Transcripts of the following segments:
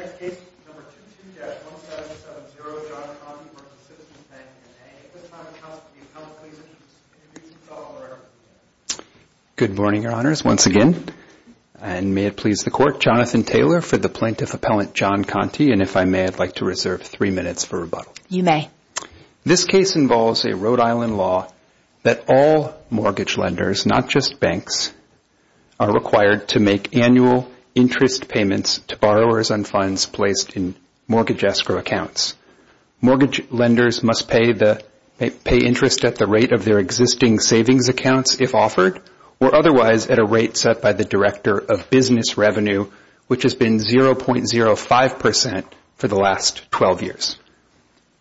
At this time, I would like to ask the Appellant, please, to introduce himself or her. Good morning, Your Honors. Once again, and may it please the Court, Jonathan Taylor for the Plaintiff Appellant, John Conti, and if I may, I'd like to reserve three minutes for rebuttal. You may. This case involves a Rhode Island law that all mortgage lenders, not just banks, are required to make annual interest payments to borrowers on funds placed in mortgage escrow accounts. Mortgage lenders must pay interest at the rate of their existing savings accounts if offered or otherwise at a rate set by the Director of Business Revenue, which has been 0.05 percent for the last 12 years.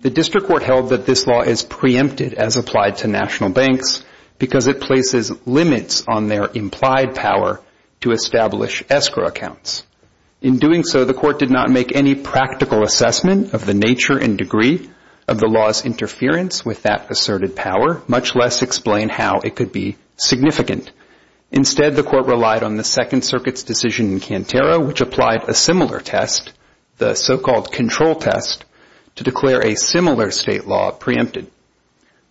The District Court held that this law is preempted as applied to national banks because it places limits on their implied power to establish escrow accounts. In doing so, the Court did not make any practical assessment of the nature and degree of the law's interference with that asserted power, much less explain how it could be significant. Instead, the Court relied on the Second Circuit's decision in Cantero, which applied a similar test, the so-called control test, to declare a similar state law preempted.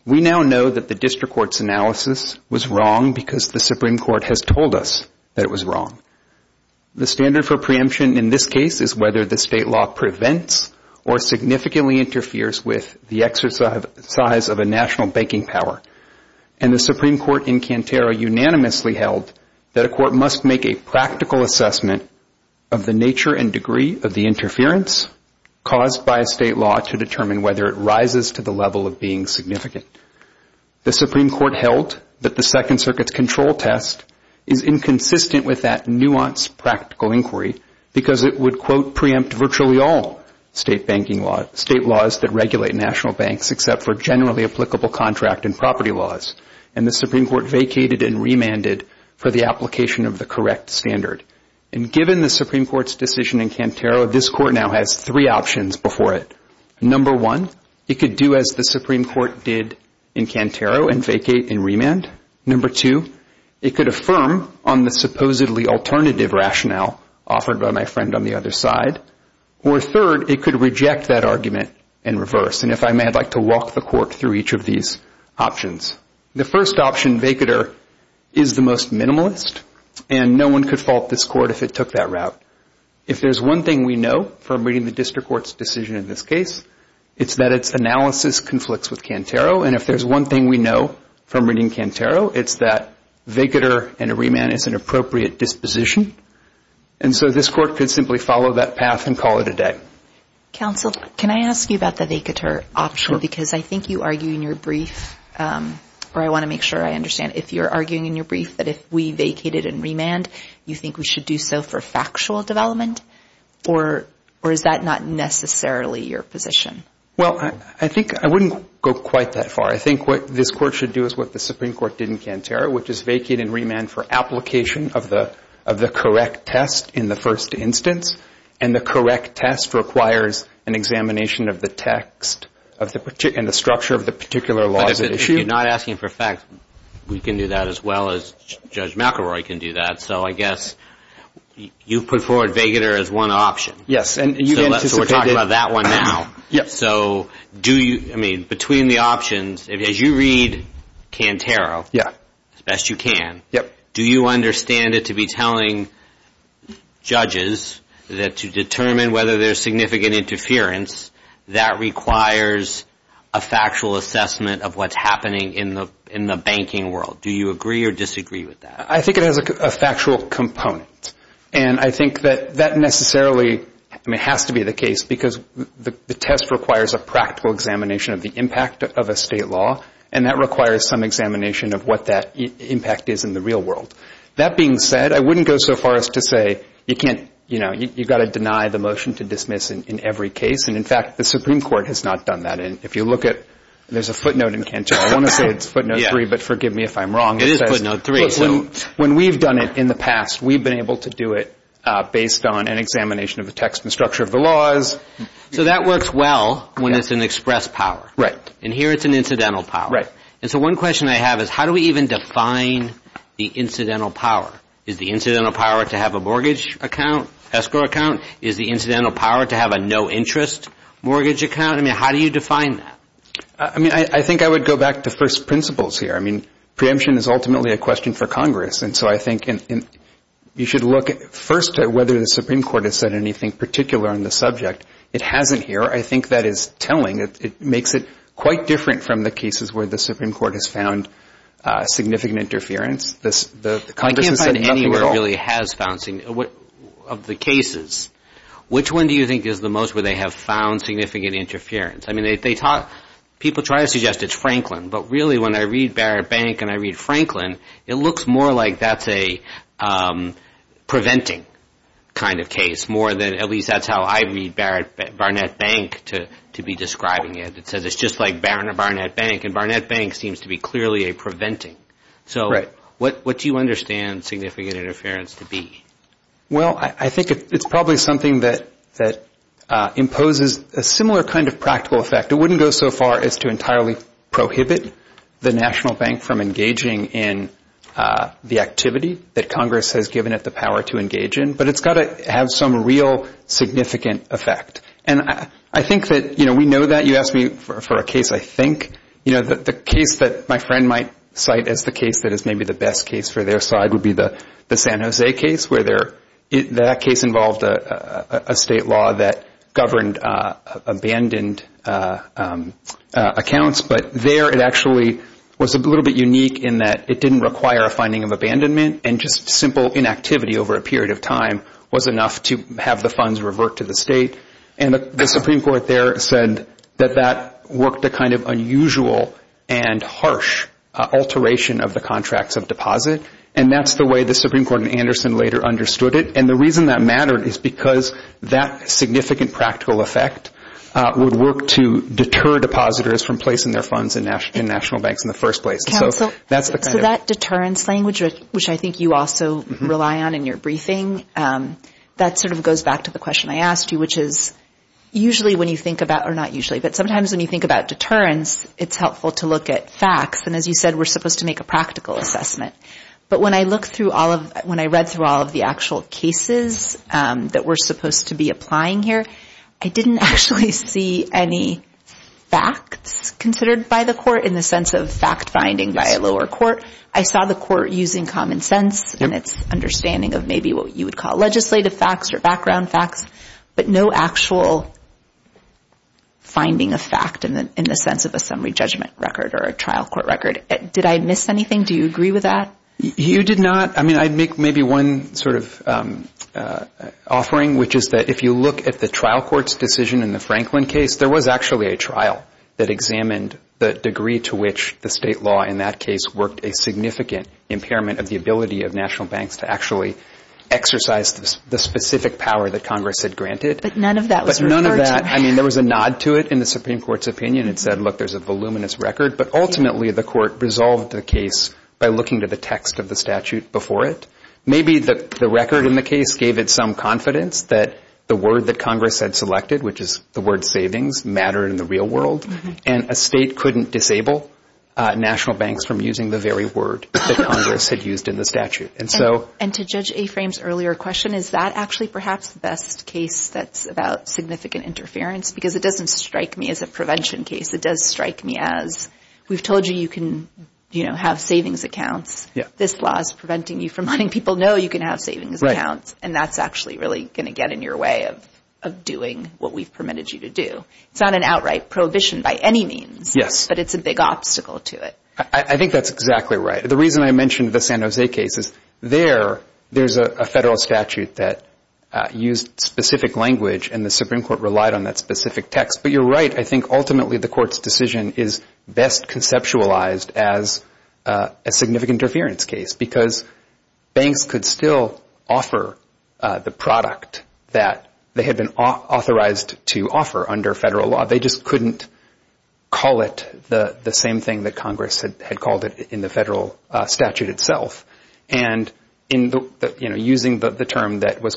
We now know that the District Court's analysis was wrong because the Supreme Court has told us that it was wrong. The standard for preemption in this case is whether the state law prevents or significantly interferes with the exercise of a national banking power. And the Supreme Court in Cantero unanimously held that a court must make a practical assessment of the nature and degree of the interference caused by a state law to determine whether it rises to the level of being significant. The Supreme Court held that the Second Circuit's control test is inconsistent with that nuanced practical inquiry because it would, quote, preempt virtually all state laws that regulate national banks except for generally applicable contract and property laws. And the Supreme Court vacated and remanded for the application of the correct standard. And given the Supreme Court's decision in Cantero, this Court now has three options before it. Number one, it could do as the Supreme Court did in Cantero and vacate and remand. Number two, it could affirm on the supposedly alternative rationale offered by my friend on the other side. Or third, it could reject that argument and reverse. And if I may, I'd like to walk the Court through each of these options. The first option, vacater, is the most minimalist. And no one could fault this Court if it took that route. If there's one thing we know from reading the District Court's decision in this case, it's that its analysis conflicts with Cantero. And if there's one thing we know from reading Cantero, it's that vacater and a remand is an appropriate disposition. And so this Court could simply follow that path and call it a day. Counsel, can I ask you about the vacater option? Because I think you argue in your brief, or I want to make sure I understand, if you're asking for factual development, or is that not necessarily your position? Well, I think I wouldn't go quite that far. I think what this Court should do is what the Supreme Court did in Cantero, which is vacate and remand for application of the correct test in the first instance. And the correct test requires an examination of the text and the structure of the particular laws at issue. But if you're not asking for facts, we can do that as well as Judge McElroy can do that. So I guess you've put forward vacater as one option. Yes. And you anticipated... So we're talking about that one now. Yes. So do you, I mean, between the options, as you read Cantero, as best you can, do you understand it to be telling judges that to determine whether there's significant interference, that requires a factual assessment of what's happening in the banking world? Do you agree or disagree with that? I think it has a factual component. And I think that that necessarily, I mean, has to be the case because the test requires a practical examination of the impact of a state law. And that requires some examination of what that impact is in the real world. That being said, I wouldn't go so far as to say you can't, you know, you've got to deny the motion to dismiss in every case. And in fact, the Supreme Court has not done that. And if you look at, there's a footnote in Cantero, I want to say it's footnote three, but forgive me if I'm wrong. It is footnote three. Okay, so when we've done it in the past, we've been able to do it based on an examination of the text and structure of the laws. So that works well when it's an express power. Right. And here it's an incidental power. Right. And so one question I have is how do we even define the incidental power? Is the incidental power to have a mortgage account, escrow account? Is the incidental power to have a no interest mortgage account? I mean, how do you define that? I mean, I think I would go back to first principles here. I mean, preemption is ultimately a question for Congress. And so I think you should look first at whether the Supreme Court has said anything particular on the subject. It hasn't here. I think that is telling. It makes it quite different from the cases where the Supreme Court has found significant interference. The Congress has said nothing at all. I can't find anywhere really has found significant, of the cases. Which one do you think is the most where they have found significant interference? I mean, they talk, people try to suggest it's Franklin. But really, when I read Barrett Bank and I read Franklin, it looks more like that's a preventing kind of case, more than, at least that's how I read Barnett Bank to be describing it. It says it's just like Barnett Bank. And Barnett Bank seems to be clearly a preventing. So what do you understand significant interference to be? Well, I think it's probably something that imposes a similar kind of practical effect. It wouldn't go so far as to entirely prohibit the National Bank from engaging in the activity that Congress has given it the power to engage in. But it's got to have some real significant effect. And I think that, you know, we know that. You asked me for a case, I think. You know, the case that my friend might cite as the case that is maybe the best case for their side would be the San Jose case, where that case involved a state law that governed abandoned accounts. But there, it actually was a little bit unique in that it didn't require a finding of abandonment and just simple inactivity over a period of time was enough to have the funds revert to the state. And the Supreme Court there said that that worked a kind of unusual and harsh alteration of the contracts of deposit. And that's the way the Supreme Court in Anderson later understood it. And the reason that mattered is because that significant practical effect would work to deter depositors from placing their funds in national banks in the first place. So that's the kind of... Counsel, so that deterrence language, which I think you also rely on in your briefing, that sort of goes back to the question I asked you, which is usually when you think about or not usually, but sometimes when you think about deterrence, it's helpful to look at facts. And as you said, we're supposed to make a practical assessment. But when I read through all of the actual cases that we're supposed to be applying here, I didn't actually see any facts considered by the court in the sense of fact-finding by a lower court. I saw the court using common sense and its understanding of maybe what you would call legislative facts or background facts, but no actual finding of fact in the sense of a summary judgment record or a trial court record. Did I miss anything? Do you agree with that? You did not. I mean, I'd make maybe one sort of offering, which is that if you look at the trial court's decision in the Franklin case, there was actually a trial that examined the degree to which the state law in that case worked a significant impairment of the ability of national banks to actually exercise the specific power that Congress had granted. But none of that was referred to. But none of that... I mean, there was a nod to it in the Supreme Court's opinion. It said, look, there's a voluminous record. But ultimately, the court resolved the case by looking to the text of the statute before it. Maybe the record in the case gave it some confidence that the word that Congress had selected, which is the word savings, mattered in the real world. And a state couldn't disable national banks from using the very word that Congress had used in the statute. And so... And to Judge Aframe's earlier question, is that actually perhaps the best case that's about significant interference? Because it doesn't strike me as a prevention case. It does strike me as, we've told you you can have savings accounts. This law is preventing you from letting people know you can have savings accounts. And that's actually really going to get in your way of doing what we've permitted you to do. It's not an outright prohibition by any means, but it's a big obstacle to it. I think that's exactly right. The reason I mentioned the San Jose case is there, there's a federal statute that used specific language and the Supreme Court relied on that specific text. But you're right. I think ultimately the court's decision is best conceptualized as a significant interference case. Because banks could still offer the product that they had been authorized to offer under federal law. They just couldn't call it the same thing that Congress had called it in the federal statute itself. And in the, you know, using the term that was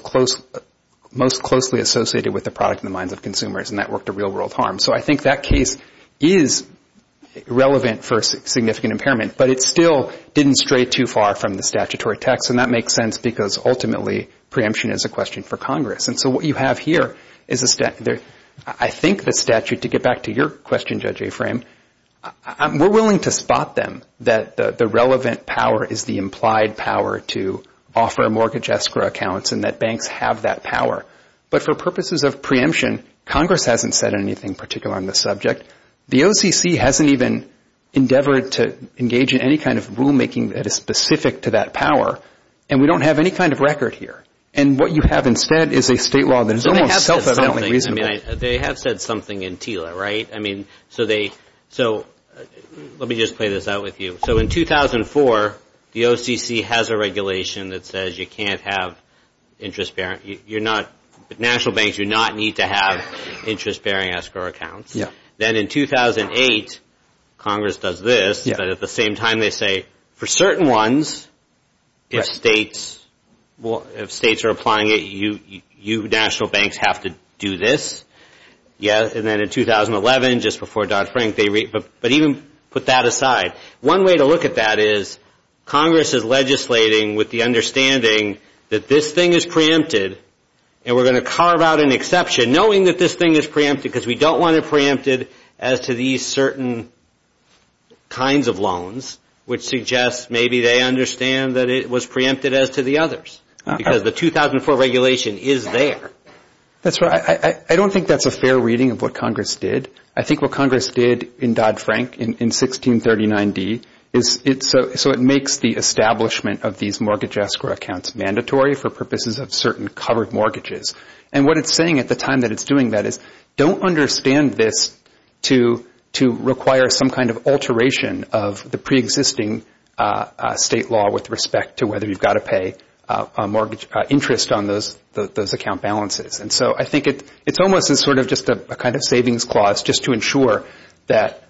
most closely associated with the product in the minds of consumers. And that worked a real world harm. So I think that case is relevant for significant impairment. But it still didn't stray too far from the statutory text. And that makes sense because ultimately preemption is a question for Congress. And so what you have here is a statute. I think the statute, to get back to your question, Judge Afram, we're willing to spot them that the relevant power is the implied power to offer mortgage escrow accounts and that banks have that power. But for purposes of preemption, Congress hasn't said anything particular on this subject. The OCC hasn't even endeavored to engage in any kind of rulemaking that is specific to that power. And we don't have any kind of record here. And what you have instead is a state law that is almost self-evidently reasonable. They have said something in TILA, right? I mean, so they, so let me just play this out with you. So in 2004, the OCC has a regulation that says you can't have interest bearing, you're not, national banks do not need to have interest bearing escrow accounts. Then in 2008, Congress does this, but at the same time they say, for certain ones, if states are applying it, you national banks have to do this. And then in 2011, just before Dodd-Frank, but even put that aside. One way to look at that is Congress is legislating with the understanding that this thing is preempted, and we're going to carve out an exception knowing that this thing is preempted because we don't want it preempted as to these certain kinds of loans, which suggests maybe they understand that it was preempted as to the others, because the 2004 regulation is there. That's right. I don't think that's a fair reading of what Congress did. I think what Congress did in Dodd-Frank in 1639D is, so it makes the establishment of these mortgage escrow accounts mandatory for purposes of certain covered mortgages. And what it's saying at the time that it's doing that is, don't understand this to require some kind of alteration of the preexisting state law with respect to whether you've got to pay a mortgage interest on those account balances. And so I think it's almost as sort of just a kind of savings clause just to ensure that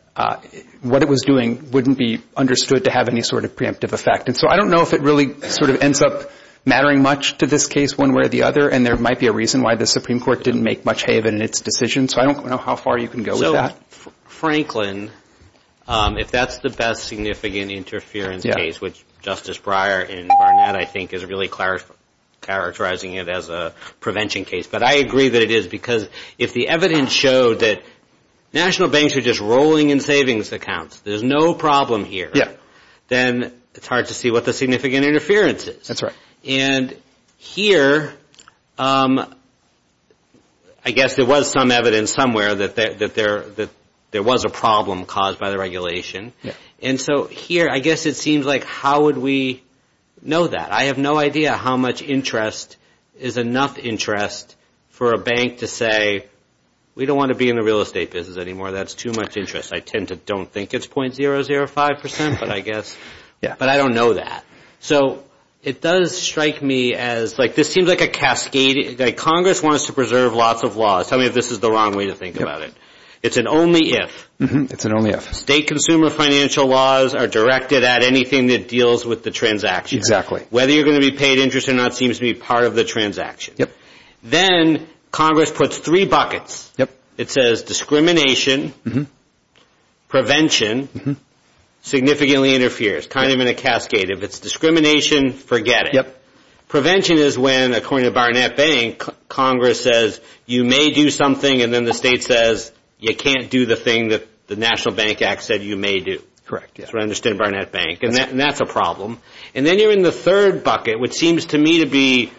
what it was doing wouldn't be understood to have any sort of preemptive effect. So I don't know if it really sort of ends up mattering much to this case one way or the other, and there might be a reason why the Supreme Court didn't make much have in its decision. So I don't know how far you can go with that. So Franklin, if that's the best significant interference case, which Justice Breyer in Barnett, I think, is really characterizing it as a prevention case. But I agree that it is because if the evidence showed that national banks are just rolling in savings accounts, there's no problem here, then it's hard to see what the significant interference is. That's right. And here, I guess there was some evidence somewhere that there was a problem caused by the regulation. And so here, I guess it seems like how would we know that? I have no idea how much interest is enough interest for a bank to say, we don't want to be in the real estate business anymore. That's too much interest. I tend to don't think it's .005%, but I guess, but I don't know that. So it does strike me as like this seems like a cascading, like Congress wants to preserve lots of laws. Tell me if this is the wrong way to think about it. It's an only if. It's an only if. State consumer financial laws are directed at anything that deals with the transaction. Whether you're going to be paid interest or not seems to be part of the transaction. Yep. Then Congress puts three buckets. Yep. It says discrimination, prevention, significantly interferes. Kind of in a cascade. If it's discrimination, forget it. Prevention is when, according to Barnett Bank, Congress says, you may do something and then the state says, you can't do the thing that the National Bank Act said you may do. Correct. That's what I understand at Barnett Bank. And that's a problem. And then you're in the third bucket, which seems to me to be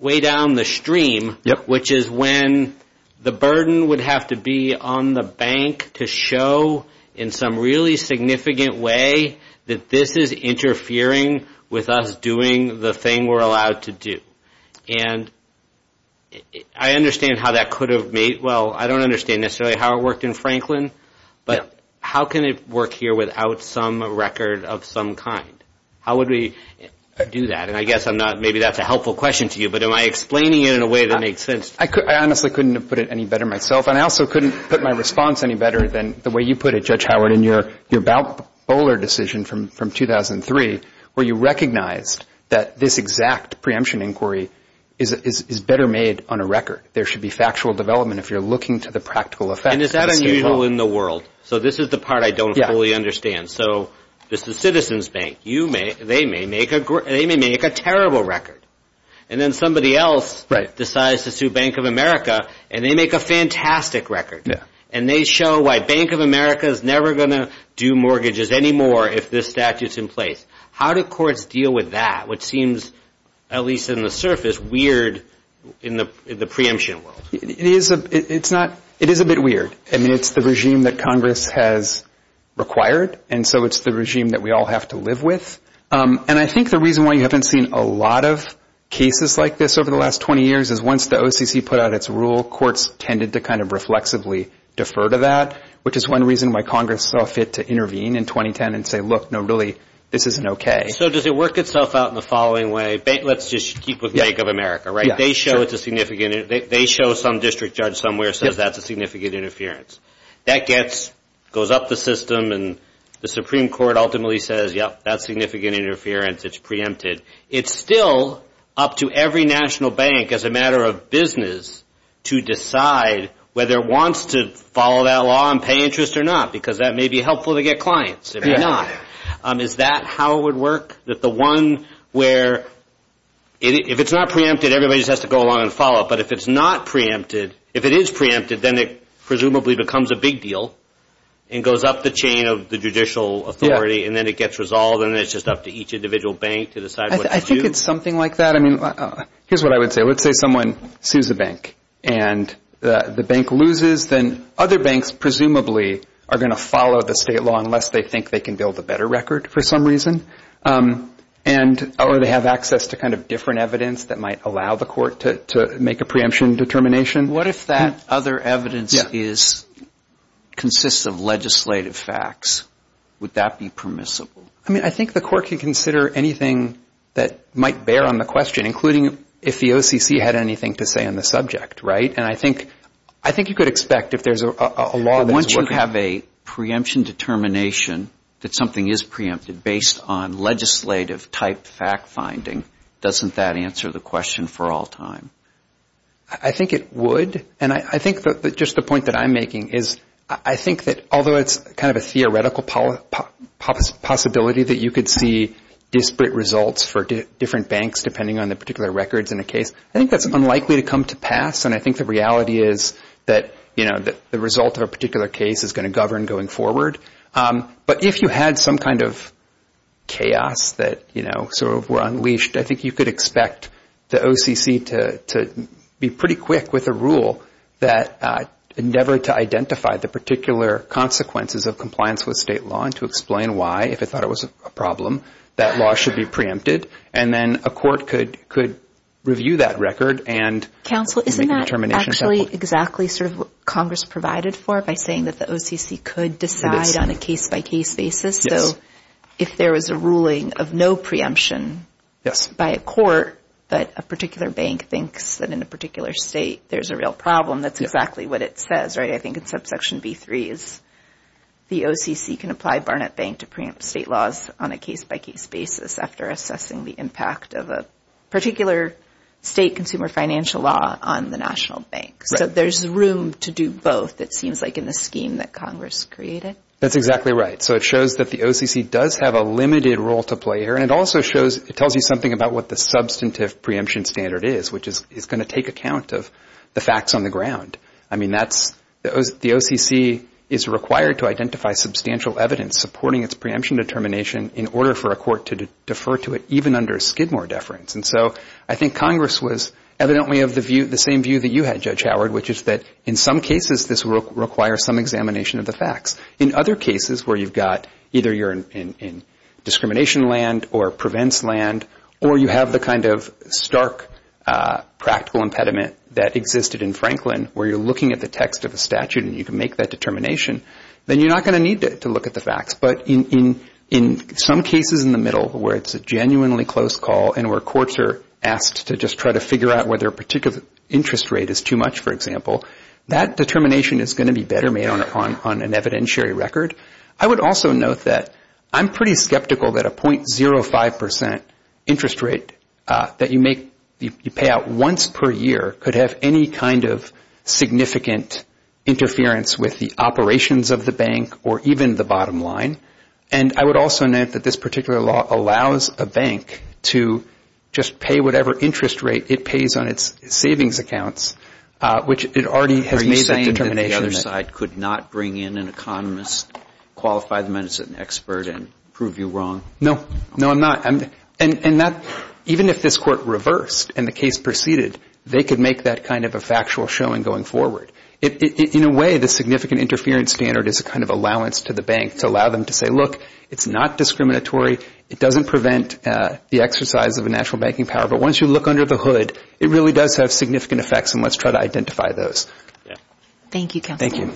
way down the stream, which is when the burden would have to be on the bank to show in some really significant way that this is interfering with us doing the thing we're allowed to do. And I understand how that could have made, well, I don't understand necessarily how it worked in Franklin, but how can it work here without some record of some kind? How would we do that? And I guess I'm not, maybe that's a helpful question to you, but am I explaining it in a way that makes sense? I honestly couldn't have put it any better myself. And I also couldn't put my response any better than the way you put it, Judge Howard, in your Bowler decision from 2003, where you recognized that this exact preemption inquiry is better made on a record. There should be factual development if you're looking to the practical effect. And is that unusual in the world? So this is the part I don't fully understand. So this is Citizens Bank. They may make a terrible record. And then somebody else decides to sue Bank of America, and they make a fantastic record. And they show why Bank of America is never going to do mortgages anymore if this statute's in place. How do courts deal with that, which seems, at least in the surface, weird in the preemption world? It is a bit weird. I mean, it's the regime that Congress has required. And so it's the regime that we all have to live with. And I think the reason why you haven't seen a lot of cases like this over the last 20 years is once the OCC put out its rule, courts tended to kind of reflexively defer to that, which is one reason why Congress saw fit to intervene in 2010 and say, look, no, really, this isn't OK. So does it work itself out in the following way? Let's just keep with Bank of America, right? They show it's a significant—they show some district judge somewhere says that's a significant interference. That gets—goes up the system, and the Supreme Court ultimately says, yep, that's significant interference. It's preempted. It's still up to every national bank as a matter of business to decide whether it wants to follow that law and pay interest or not, because that may be helpful to get clients. It may not. Is that how it would work, that the one where—if it's not preempted, everybody just has to go along and follow it. But if it's not preempted—if it is preempted, then it presumably becomes a big deal and goes up the chain of the judicial authority, and then it gets resolved, and then it's just up to each individual bank to decide what to do. I think it's something like that. I mean, here's what I would say. Let's say someone sues a bank, and the bank loses. Then other banks presumably are going to follow the state law unless they think they can build a better record for some reason, and—or they have access to kind of different evidence that might allow the court to make a preemption determination. What if that other evidence is—consists of legislative facts? Would that be permissible? I mean, I think the court can consider anything that might bear on the question, including if the OCC had anything to say on the subject, right? And I think—I think you could expect if there's a law that's— Once you have a preemption determination that something is preempted based on legislative type fact-finding, doesn't that answer the question for all time? I think it would. And I think that just the point that I'm making is I think that although it's kind of a theoretical possibility that you could see disparate results for different banks depending on the particular records in a case, I think that's unlikely to come to pass. And I think the reality is that, you know, the result of a particular case is going to govern going forward. But if you had some kind of chaos that, you know, sort of were unleashed, I think you could expect the OCC to be pretty quick with a rule that endeavored to identify the particular consequences of compliance with state law and to explain why, if it thought it was a problem, that law should be preempted. And then a court could review that record and— Counsel, isn't that actually exactly sort of what Congress provided for by saying that OCC could decide on a case-by-case basis? So if there was a ruling of no preemption by a court, but a particular bank thinks that in a particular state there's a real problem, that's exactly what it says, right? I think in subsection B3 is the OCC can apply Barnett Bank to preempt state laws on a case-by-case basis after assessing the impact of a particular state consumer financial law on the national bank. So there's room to do both, it seems like, in the scheme that Congress created. That's exactly right. So it shows that the OCC does have a limited role to play here. And it also shows—it tells you something about what the substantive preemption standard is, which is going to take account of the facts on the ground. I mean, that's—the OCC is required to identify substantial evidence supporting its preemption determination in order for a court to defer to it even under a Skidmore deference. And so I think Congress was evidently of the view—the same view that you had, Judge Howard, which is that in some cases this requires some examination of the facts. In other cases where you've got—either you're in discrimination land or prevents land or you have the kind of stark practical impediment that existed in Franklin where you're looking at the text of a statute and you can make that determination, then you're not going to need to look at the facts. But in some cases in the middle where it's a genuinely close call and where courts are asked to just try to figure out whether a particular interest rate is too much, for example, that determination is going to be better made on an evidentiary record. I would also note that I'm pretty skeptical that a 0.05 percent interest rate that you make—you pay out once per year could have any kind of significant interference with the operations of the bank or even the bottom line. And I would also note that this particular law allows a bank to just pay whatever interest rate it pays on its savings accounts, which it already has made that determination. Are you saying that the other side could not bring in an economist, qualify them as an expert and prove you wrong? No. No, I'm not. And that—even if this Court reversed and the case proceeded, they could make that kind of a factual showing going forward. In a way, the significant interference standard is a kind of allowance to the bank to allow them to say, look, it's not discriminatory. It doesn't prevent the exercise of a national banking power. But once you look under the hood, it really does have significant effects and let's try to identify those. Thank you, Counselor.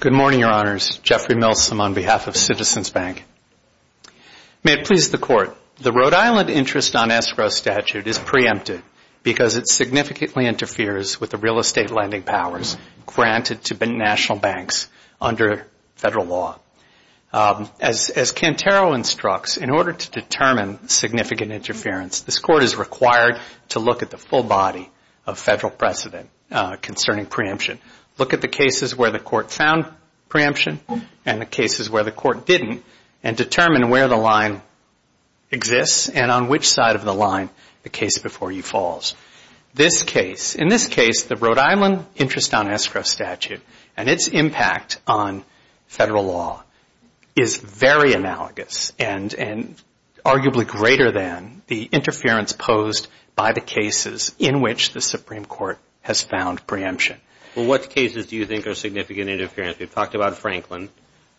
Good morning, Your Honors. Jeffrey Milsom on behalf of Citizens Bank. May it please the Court, the Rhode Island interest on escrow statute is preempted because it significantly interferes with the real estate lending powers granted to national banks under federal law. As Cantero instructs, in order to determine significant interference, this Court is required to look at the full body of federal precedent concerning preemption, look at the cases where the Court found preemption and the cases where the Court didn't, and determine where the line exists and on which side of the line the case before you falls. This case—in this case, the Rhode Island interest on escrow statute and its impact on federal law is very analogous and arguably greater than the interference posed by the cases in which the Supreme Court has found preemption. What cases do you think are significant interference? We've talked about Franklin.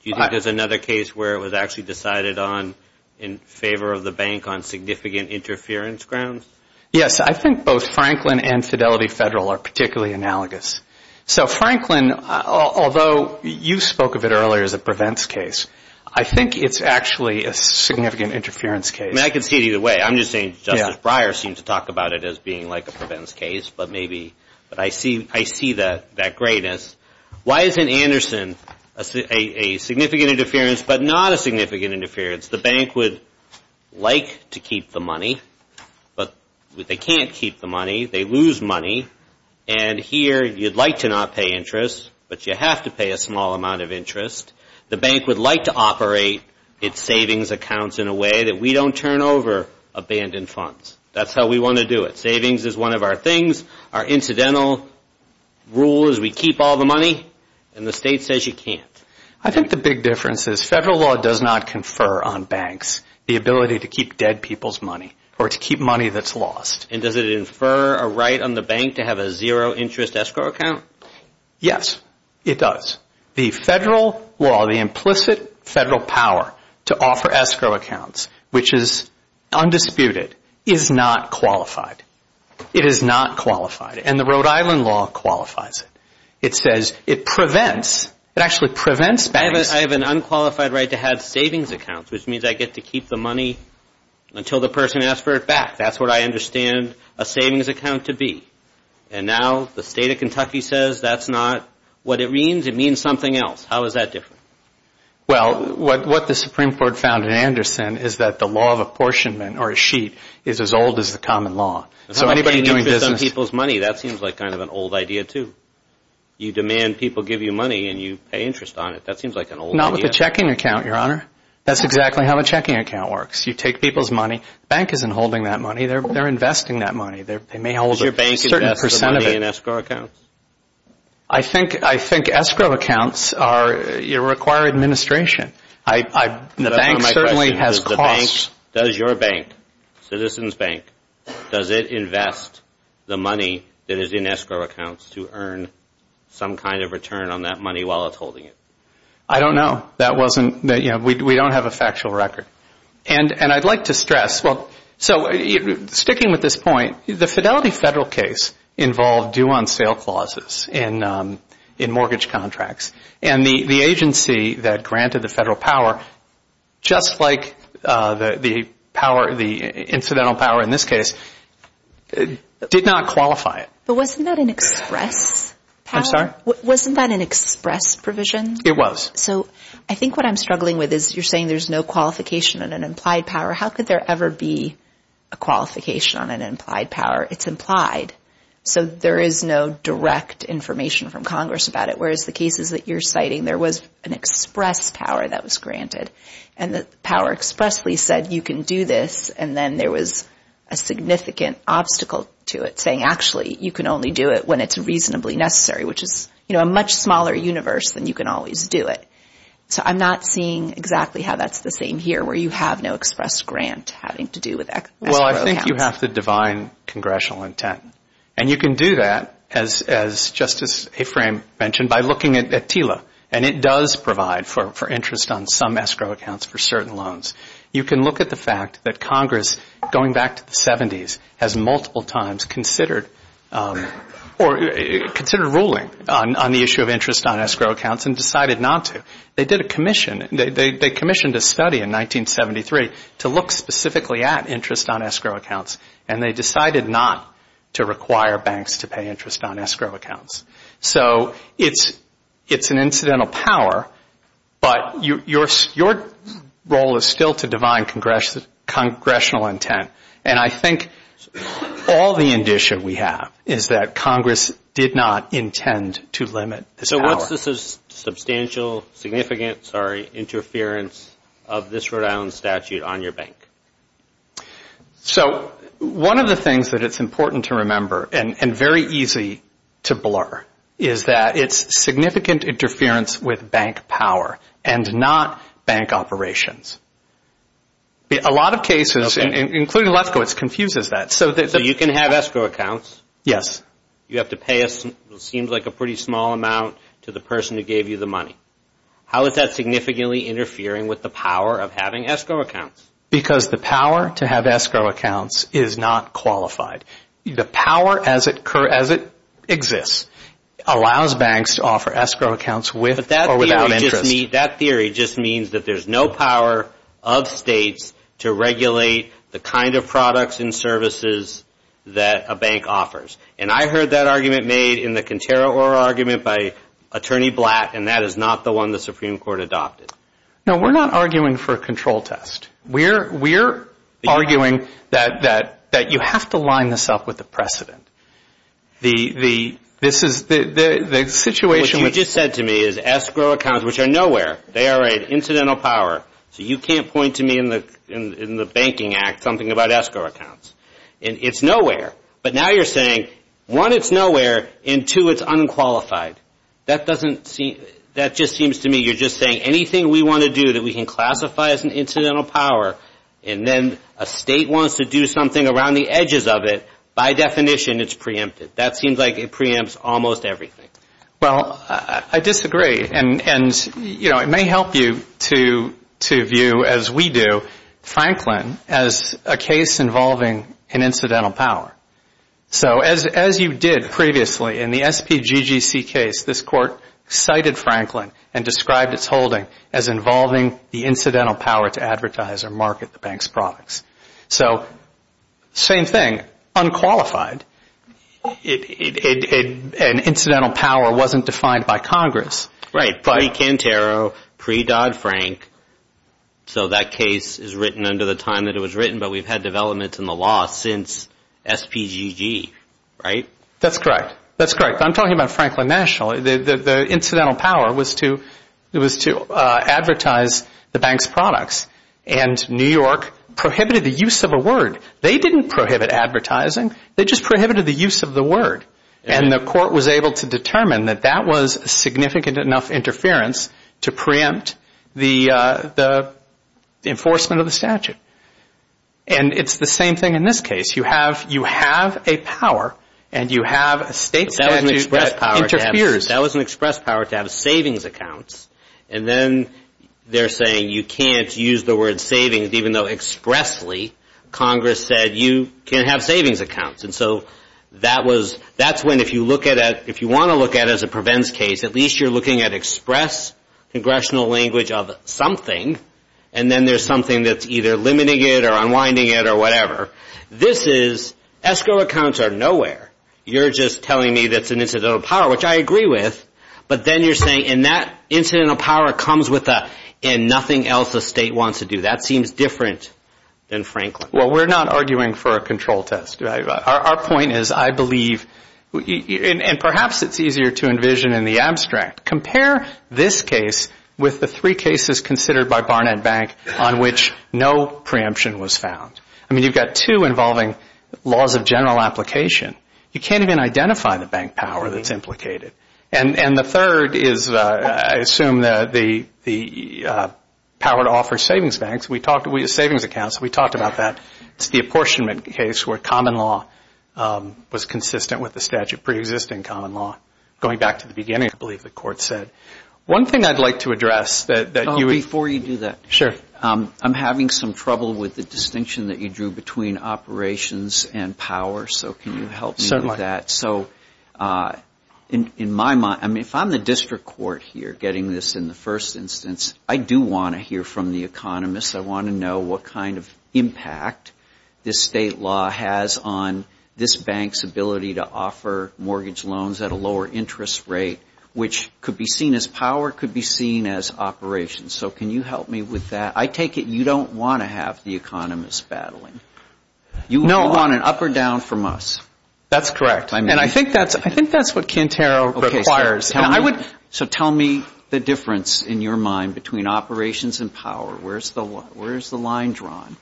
Do you think there's another case where it was actually decided on in favor of the bank on significant interference grounds? Yes. I think both Franklin and Fidelity Federal are particularly analogous. So Franklin, although you spoke of it earlier as a prevents case, I think it's actually a significant interference case. I can see it either way. I'm just saying Justice Breyer seems to talk about it as being like a prevents case, but maybe—but I see that greatness. Why isn't Anderson a significant interference but not a significant interference? The bank would like to keep the money, but they can't keep the money. They lose money. And here, you'd like to not pay interest, but you have to pay a small amount of interest. The bank would like to operate its savings accounts in a way that we don't turn over abandoned funds. That's how we want to do it. Savings is one of our things. Our incidental rule is we keep all the money, and the state says you can't. I think the big difference is federal law does not confer on banks the ability to keep dead people's money or to keep money that's lost. And does it infer a right on the bank to have a zero interest escrow account? Yes, it does. The federal law, the implicit federal power to offer escrow accounts, which is undisputed, is not qualified. It is not qualified. And the Rhode Island law qualifies it. It says it prevents—it actually prevents banks— I have an unqualified right to have savings accounts, which means I get to keep the money until the person asks for it back. That's what I understand a savings account to be. And now the state of Kentucky says that's not what it means. It means something else. How is that different? Well, what the Supreme Court found in Anderson is that the law of apportionment or a sheet is as old as the common law. So anybody doing business— How can you keep some people's money? That seems like kind of an old idea, too. You demand people give you money, and you pay interest on it. That seems like an old idea. Not with a checking account, Your Honor. That's exactly how a checking account works. You take people's money. Bank isn't holding that money. They're investing that money. They may hold a certain percent of it. Does your bank invest the money in escrow accounts? I think escrow accounts require administration. The bank certainly has costs. Does your bank, Citizens Bank, does it invest the money that is in escrow accounts to earn some kind of return on that money while it's holding it? I don't know. That wasn't—we don't have a factual record. And I'd like to stress—so sticking with this point, the Fidelity federal case involved due-on-sale clauses in mortgage contracts. And the agency that granted the federal power, just like the power, the incidental power in this case, did not qualify it. But wasn't that an express power? I'm sorry? Wasn't that an express provision? It was. So I think what I'm struggling with is you're saying there's no qualification on an implied power. How could there ever be a qualification on an implied power? It's implied. So there is no direct information from Congress about it, whereas the cases that you're citing, there was an express power that was granted. And the power expressly said you can do this, and then there was a significant obstacle to it saying, actually, you can only do it when it's reasonably necessary, which is a much smaller universe than you can always do it. So I'm not seeing exactly how that's the same here, where you have no express grant having to do with escrow accounts. I think you have to divine congressional intent. And you can do that, as Justice Aframe mentioned, by looking at TILA. And it does provide for interest on some escrow accounts for certain loans. You can look at the fact that Congress, going back to the 70s, has multiple times considered ruling on the issue of interest on escrow accounts and decided not to. They did a commission. They commissioned a study in 1973 to look specifically at interest on escrow accounts, and they decided not to require banks to pay interest on escrow accounts. So it's an incidental power, but your role is still to divine congressional intent. And I think all the indicia we have is that Congress did not intend to limit this power. Is this a substantial, significant, sorry, interference of this Rhode Island statute on your bank? So one of the things that it's important to remember, and very easy to blur, is that it's significant interference with bank power and not bank operations. A lot of cases, including Lethgo, it confuses that. So you can have escrow accounts. Yes. You have to pay what seems like a pretty small amount to the person who gave you the money. How is that significantly interfering with the power of having escrow accounts? Because the power to have escrow accounts is not qualified. The power as it exists allows banks to offer escrow accounts with or without interest. But that theory just means that there's no power of states to regulate the kind of products and services that a bank offers. And I heard that argument made in the Cantera-Orr argument by Attorney Blatt, and that is not the one the Supreme Court adopted. No, we're not arguing for a control test. We're arguing that you have to line this up with the precedent. This is the situation. What you just said to me is escrow accounts, which are nowhere. They are an incidental power. So you can't point to me in the Banking Act something about escrow accounts. It's nowhere. But now you're saying, one, it's nowhere, and two, it's unqualified. That just seems to me you're just saying anything we want to do that we can classify as an incidental power and then a state wants to do something around the edges of it, by definition it's preempted. That seems like it preempts almost everything. Well, I disagree. It may help you to view, as we do, Franklin as a case involving an incidental power. So as you did previously in the SPGGC case, this Court cited Franklin and described its holding as involving the incidental power to advertise or market the bank's products. So same thing, unqualified. An incidental power wasn't defined by Congress. Right, pre-Cantero, pre-Dodd-Frank. So that case is written under the time that it was written, but we've had developments in the law since SPGG, right? That's correct. That's correct. I'm talking about Franklin National. The incidental power was to advertise the bank's products, and New York prohibited the use of a word. They didn't prohibit advertising. They just prohibited the use of the word. And the Court was able to determine that that was significant enough interference to preempt the enforcement of the statute. And it's the same thing in this case. You have a power and you have a state statute that interferes. That was an express power to have savings accounts. And then they're saying you can't use the word savings, even though expressly Congress said you can have savings accounts. And so that's when, if you want to look at it as a prevents case, at least you're looking at express congressional language of something, and then there's something that's either limiting it or unwinding it or whatever. This is escrow accounts are nowhere. You're just telling me that's an incidental power, which I agree with. But then you're saying, and that incidental power comes with a, and nothing else the state wants to do. That seems different than Franklin. Well, we're not arguing for a control test. Our point is I believe, and perhaps it's easier to envision in the abstract, compare this case with the three cases considered by Barnett Bank on which no preemption was found. I mean, you've got two involving laws of general application. You can't even identify the bank power that's implicated. And the third is, I assume, the power to offer savings banks. We talked about savings accounts. We talked about that. It's the apportionment case where common law was consistent with the statute preexisting common law. Going back to the beginning, I believe the court said. One thing I'd like to address that you would. Before you do that. Sure. I'm having some trouble with the distinction that you drew between operations and power. So can you help me with that? So in my mind, I mean, if I'm the district court here getting this in the first instance, I do want to hear from the economists. I want to know what kind of impact this state law has on this bank's ability to offer mortgage loans at a lower interest rate, which could be seen as power, could be seen as operations. So can you help me with that? I take it you don't want to have the economists battling. No. You want an up or down from us. That's correct. And I think that's what Quintero requires. So tell me the difference in your mind between operations and power. Where is the line drawn?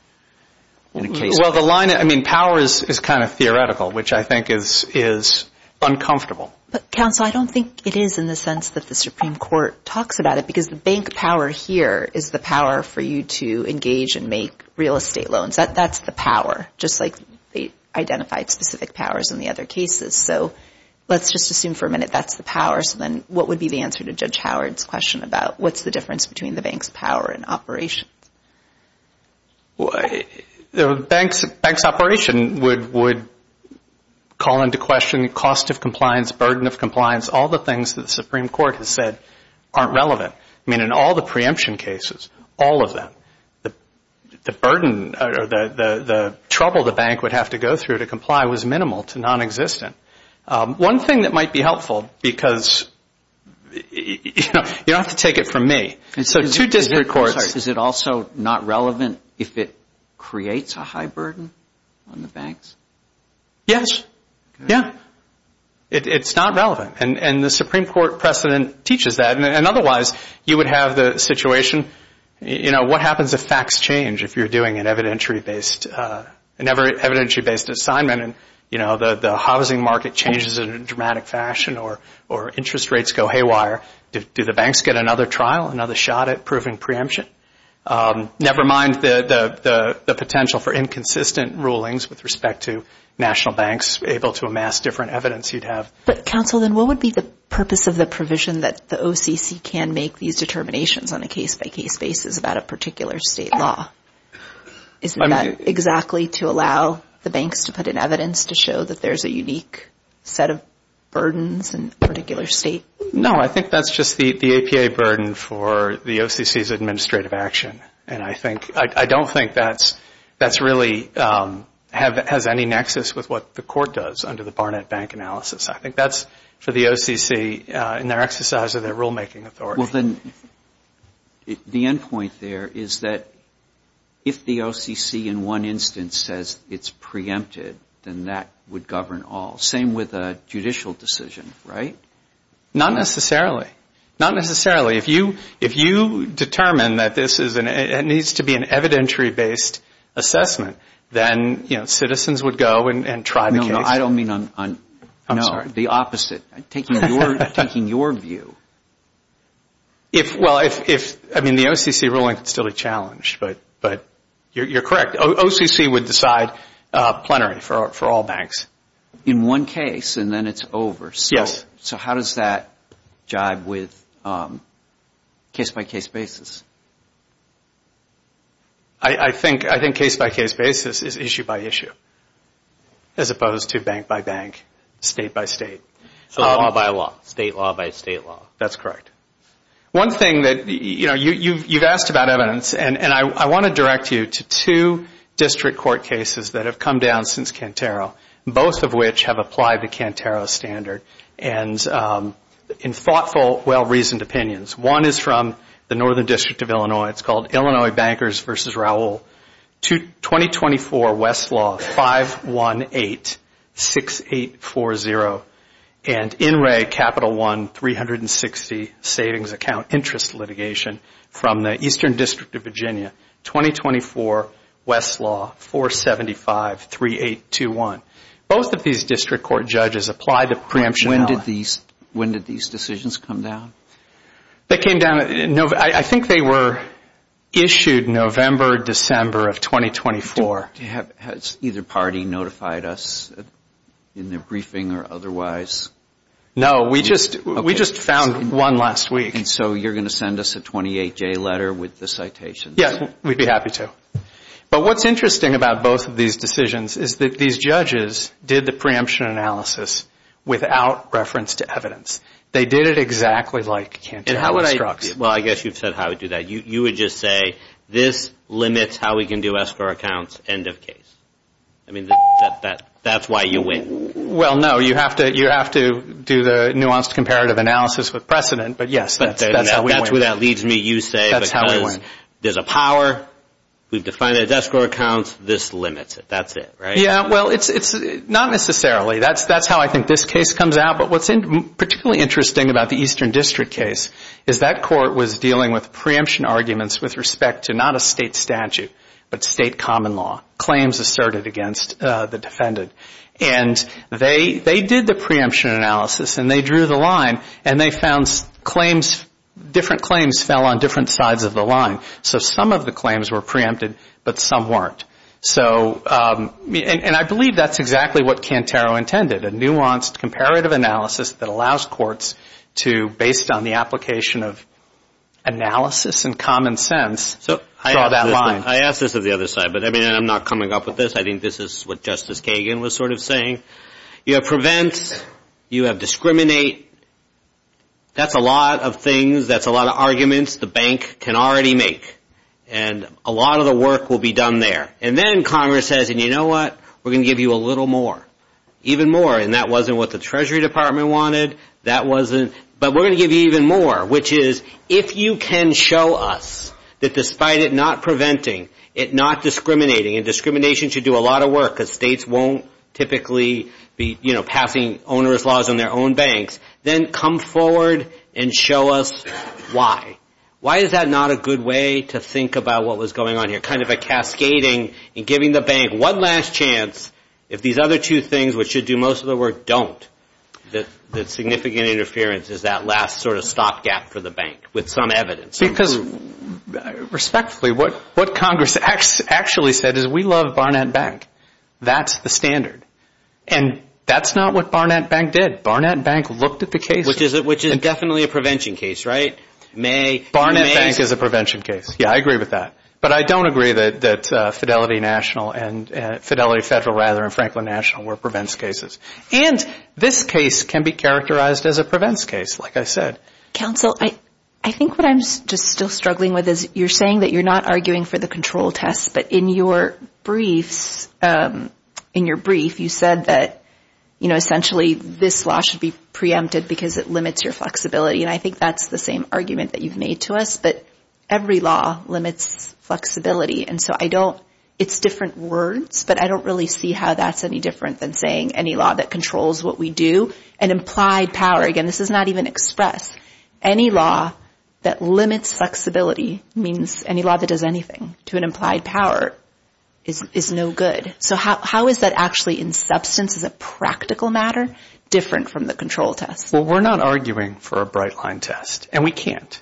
Well, the line, I mean, power is kind of theoretical, which I think is uncomfortable. But, counsel, I don't think it is in the sense that the Supreme Court talks about it because the bank power here is the power for you to engage and make real estate loans. That's the power, just like they identified specific powers in the other cases. So let's just assume for a minute that's the power. So then what would be the answer to Judge Howard's question about what's the difference between the bank's power and operations? The bank's operation would call into question the cost of compliance, burden of compliance, all the things that the Supreme Court has said aren't relevant. I mean, in all the preemption cases, all of them, the burden or the trouble the bank would have to go through to comply was minimal to nonexistent. One thing that might be helpful because, you know, you don't have to take it from me. So two disparate courts. Is it also not relevant if it creates a high burden on the banks? Yes. Yeah. It's not relevant. And the Supreme Court precedent teaches that. And otherwise, you would have the situation, you know, what happens if facts change if you're doing an evidentiary-based assignment and, you know, the housing market changes in a dramatic fashion or interest rates go haywire? Do the banks get another trial, another shot at proving preemption? Never mind the potential for inconsistent rulings with respect to national banks able to amass different evidence you'd have. But, counsel, then what would be the purpose of the provision that the OCC can make these determinations on a case-by-case basis about a particular state law? Isn't that exactly to allow the banks to put in evidence to show that there's a unique set of burdens in a particular state? No. I think that's just the APA burden for the OCC's administrative action. And I don't think that's really has any nexus with what the court does under the Barnett Bank analysis. I think that's for the OCC in their exercise of their rulemaking authority. Well, then, the end point there is that if the OCC in one instance says it's preempted, then that would govern all. Same with a judicial decision, right? Not necessarily. Not necessarily. If you determine that this is an needs to be an evidentiary-based assessment, then, you know, citizens would go and try the case. No, I don't mean on the opposite. Taking your view. Well, I mean, the OCC ruling could still be challenged, but you're correct. OCC would decide plenary for all banks. In one case, and then it's over. Yes. So how does that jibe with case-by-case basis? I think case-by-case basis is issue-by-issue as opposed to bank-by-bank, state-by-state. So law-by-law. State law-by-state law. That's correct. One thing that, you know, you've asked about evidence, and I want to direct you to two district court cases that have come down since Cantero, both of which have applied the Cantero standard in thoughtful, well-reasoned opinions. One is from the Northern District of Illinois. It's called Illinois Bankers v. Raul. 2024 Westlaw 518-6840. And INRAE Capital One 360 Savings Account Interest Litigation from the Eastern District of Virginia. 2024 Westlaw 475-3821. Both of these district court judges apply the preemption. When did these decisions come down? They came down, I think they were issued November, December of 2024. Has either party notified us in their briefing or otherwise? No, we just found one last week. And so you're going to send us a 28-J letter with the citations? Yes, we'd be happy to. But what's interesting about both of these decisions is that these judges did the preemption analysis without reference to evidence. They did it exactly like Cantero instructs. Well, I guess you've said how to do that. You would just say, this limits how we can do escrow accounts, end of case. I mean, that's why you win. Well, no, you have to do the nuanced comparative analysis with precedent, but yes, that's how we win. That leads me, you say, because there's a power, we've defined it as escrow accounts, this limits it. That's it, right? Yeah, well, it's not necessarily. That's how I think this case comes out, but what's particularly interesting about the Eastern District case is that court was dealing with preemption arguments with respect to not a state statute, but state common law, claims asserted against the defendant. And they did the preemption analysis, and they drew the line, and they found different claims fell on different sides of the line. So some of the claims were preempted, but some weren't. And I believe that's exactly what Cantero intended, a nuanced comparative analysis that allows courts to, based on the application of analysis and common sense, draw that line. I ask this of the other side, but I mean, I'm not coming up with this. I think this is what Justice Kagan was sort of saying. You have prevent, you have discriminate. That's a lot of things, that's a lot of arguments the bank can already make, and a lot of the work will be done there. And then Congress says, and you know what, we're going to give you a little more, even more. And that wasn't what the Treasury Department wanted. But we're going to give you even more, which is, if you can show us that despite it not preventing, it not discriminating, and discrimination should do a lot of work, because states won't typically be passing onerous laws on their own banks, then come forward and show us why. Why is that not a good way to think about what was going on here, kind of a cascading and giving the bank one last chance if these other two things, which should do most of the work, don't? That significant interference is that last sort of stopgap for the bank, with some evidence. Because, respectfully, what Congress actually said is we love Barnett Bank. That's the standard. And that's not what Barnett Bank did. Barnett Bank looked at the case. Which is definitely a prevention case, right? Barnett Bank is a prevention case. Yeah, I agree with that. But I don't agree that Fidelity Federal and Franklin National were prevents cases. And this case can be characterized as a prevents case, like I said. Counsel, I think what I'm just still struggling with is you're saying that you're not arguing for the control test, but in your briefs you said that, you know, essentially this law should be preempted because it limits your flexibility. And I think that's the same argument that you've made to us. But every law limits flexibility. And so I don't ‑‑ it's different words, but I don't really see how that's any different than saying any law that controls what we do. And implied power, again, this is not even express. Any law that limits flexibility means any law that does anything to an implied power is no good. So how is that actually in substance as a practical matter different from the control test? Well, we're not arguing for a bright line test, and we can't.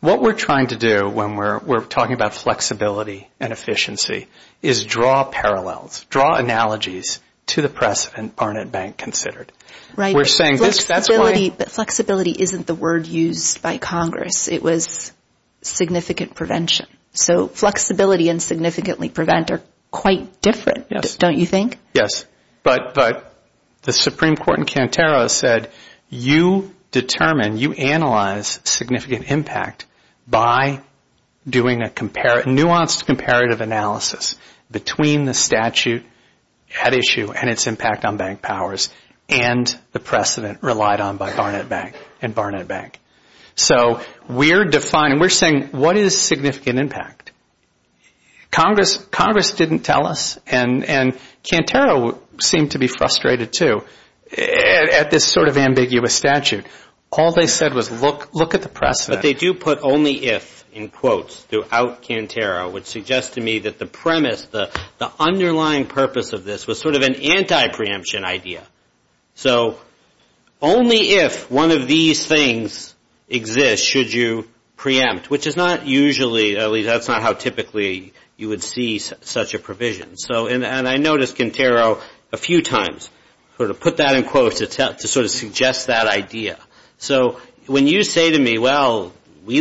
What we're trying to do when we're talking about flexibility and efficiency is draw parallels, draw analogies to the precedent Barnett Bank considered. Right. We're saying this ‑‑ Flexibility isn't the word used by Congress. It was significant prevention. So flexibility and significantly prevent are quite different, don't you think? Yes. But the Supreme Court in Cantero said, you determine, you analyze significant impact by doing a nuanced comparative analysis between the statute at issue and its impact on bank powers and the precedent relied on by Barnett Bank and Barnett Bank. So we're defining, we're saying, what is significant impact? Congress didn't tell us, and Cantero seemed to be frustrated, too, at this sort of ambiguous statute. All they said was look at the precedent. But they do put only if in quotes throughout Cantero, which suggests to me that the premise, the underlying purpose of this, was sort of an anti‑preemption idea. So only if one of these things exists should you preempt, which is not usually, at least that's not how typically you would see such a provision. And I noticed Cantero a few times sort of put that in quotes to sort of suggest that idea. So when you say to me, well, we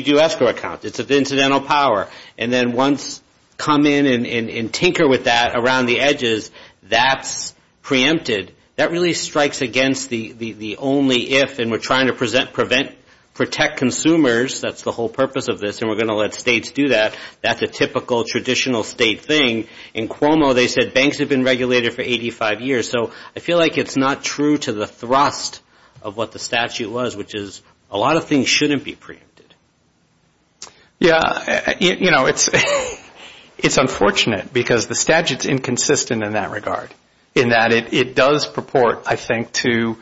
do escrow accounts. It's an incidental power. And then once come in and tinker with that around the edges, that's preempted. That really strikes against the only if, and we're trying to protect consumers, that's the whole purpose of this, and we're going to let states do that. That's a typical traditional state thing. In Cuomo, they said banks have been regulated for 85 years. So I feel like it's not true to the thrust of what the statute was, which is a lot of things shouldn't be preempted. Yeah, you know, it's unfortunate because the statute is inconsistent in that regard, in that it does purport, I think, to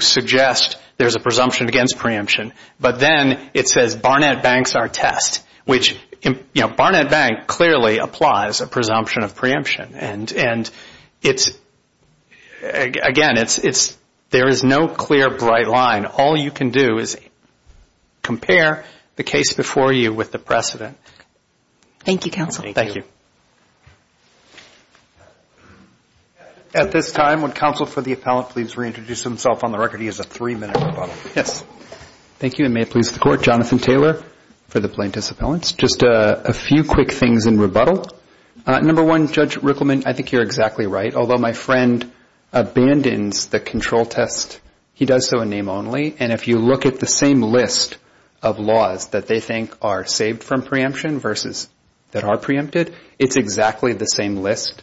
suggest there's a presumption against preemption. But then it says Barnett Banks are a test, which Barnett Bank clearly applies a presumption of preemption. And, again, there is no clear, bright line. All you can do is compare the case before you with the precedent. Thank you, counsel. Thank you. At this time, would counsel for the appellant please reintroduce himself on the record? He has a three-minute rebuttal. Yes. Thank you, and may it please the Court. Jonathan Taylor for the plaintiff's appellants. Just a few quick things in rebuttal. Number one, Judge Rickleman, I think you're exactly right. Although my friend abandons the control test, he does so in name only. And if you look at the same list of laws that they think are saved from preemption versus that are preempted, it's exactly the same list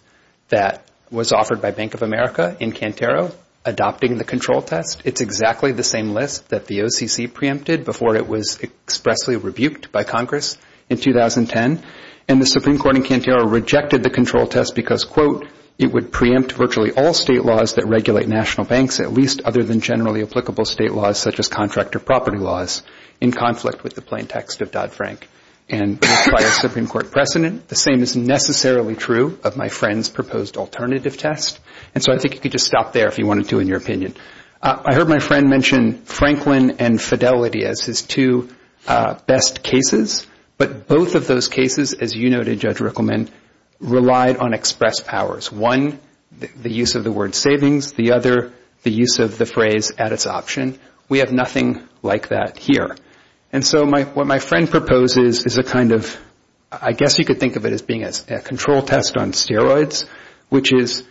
that was offered by Bank of America in Cantero adopting the control test. It's exactly the same list that the OCC preempted before it was expressly rebuked by Congress in 2010. And the Supreme Court in Cantero rejected the control test because, quote, it would preempt virtually all state laws that regulate national banks, at least other than generally applicable state laws such as contractor property laws, in conflict with the plain text of Dodd-Frank. And by a Supreme Court precedent, the same is necessarily true of my friend's proposed alternative test. And so I think you could just stop there if you wanted to in your opinion. I heard my friend mention Franklin and Fidelity as his two best cases, but both of those cases, as you noted, Judge Rickleman, relied on express powers. One, the use of the word savings. The other, the use of the phrase at its option. We have nothing like that here. And so what my friend proposes is a kind of, I guess you could think of it as being a control test on steroids, which is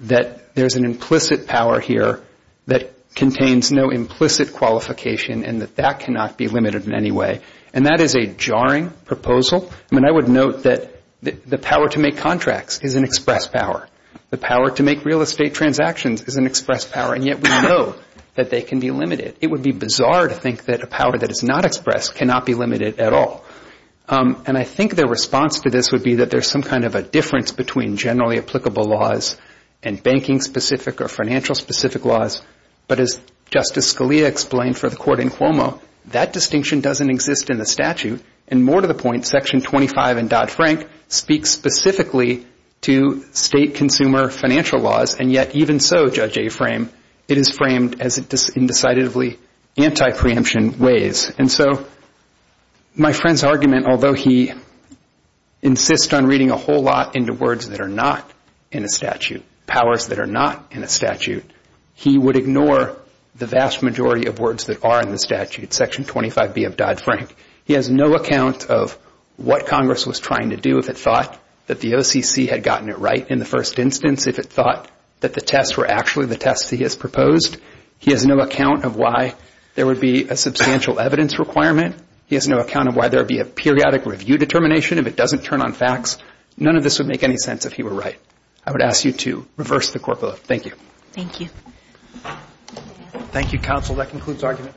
that there's an implicit power here that contains no implicit qualification and that that cannot be limited in any way. And that is a jarring proposal. I mean, I would note that the power to make contracts is an express power. The power to make real estate transactions is an express power, and yet we know that they can be limited. It would be bizarre to think that a power that is not expressed cannot be limited at all. And I think their response to this would be that there's some kind of a difference between generally applicable laws and banking-specific or financial-specific laws. But as Justice Scalia explained for the court in Cuomo, that distinction doesn't exist in the statute. And more to the point, Section 25 in Dodd-Frank speaks specifically to state consumer financial laws, and yet even so, Judge Aframe, it is framed as indecisively anti-preemption ways. And so my friend's argument, although he insists on reading a whole lot into words that are not in a statute, powers that are not in a statute, he would ignore the vast majority of words that are in the statute, Section 25B of Dodd-Frank. He has no account of what Congress was trying to do if it thought that the OCC had gotten it right in the first instance, if it thought that the tests were actually the tests that he has proposed. He has no account of why there would be a substantial evidence requirement. He has no account of why there would be a periodic review determination if it doesn't turn on facts. None of this would make any sense if he were right. I would ask you to reverse the court vote. Thank you. Thank you. Thank you, counsel. That concludes argument.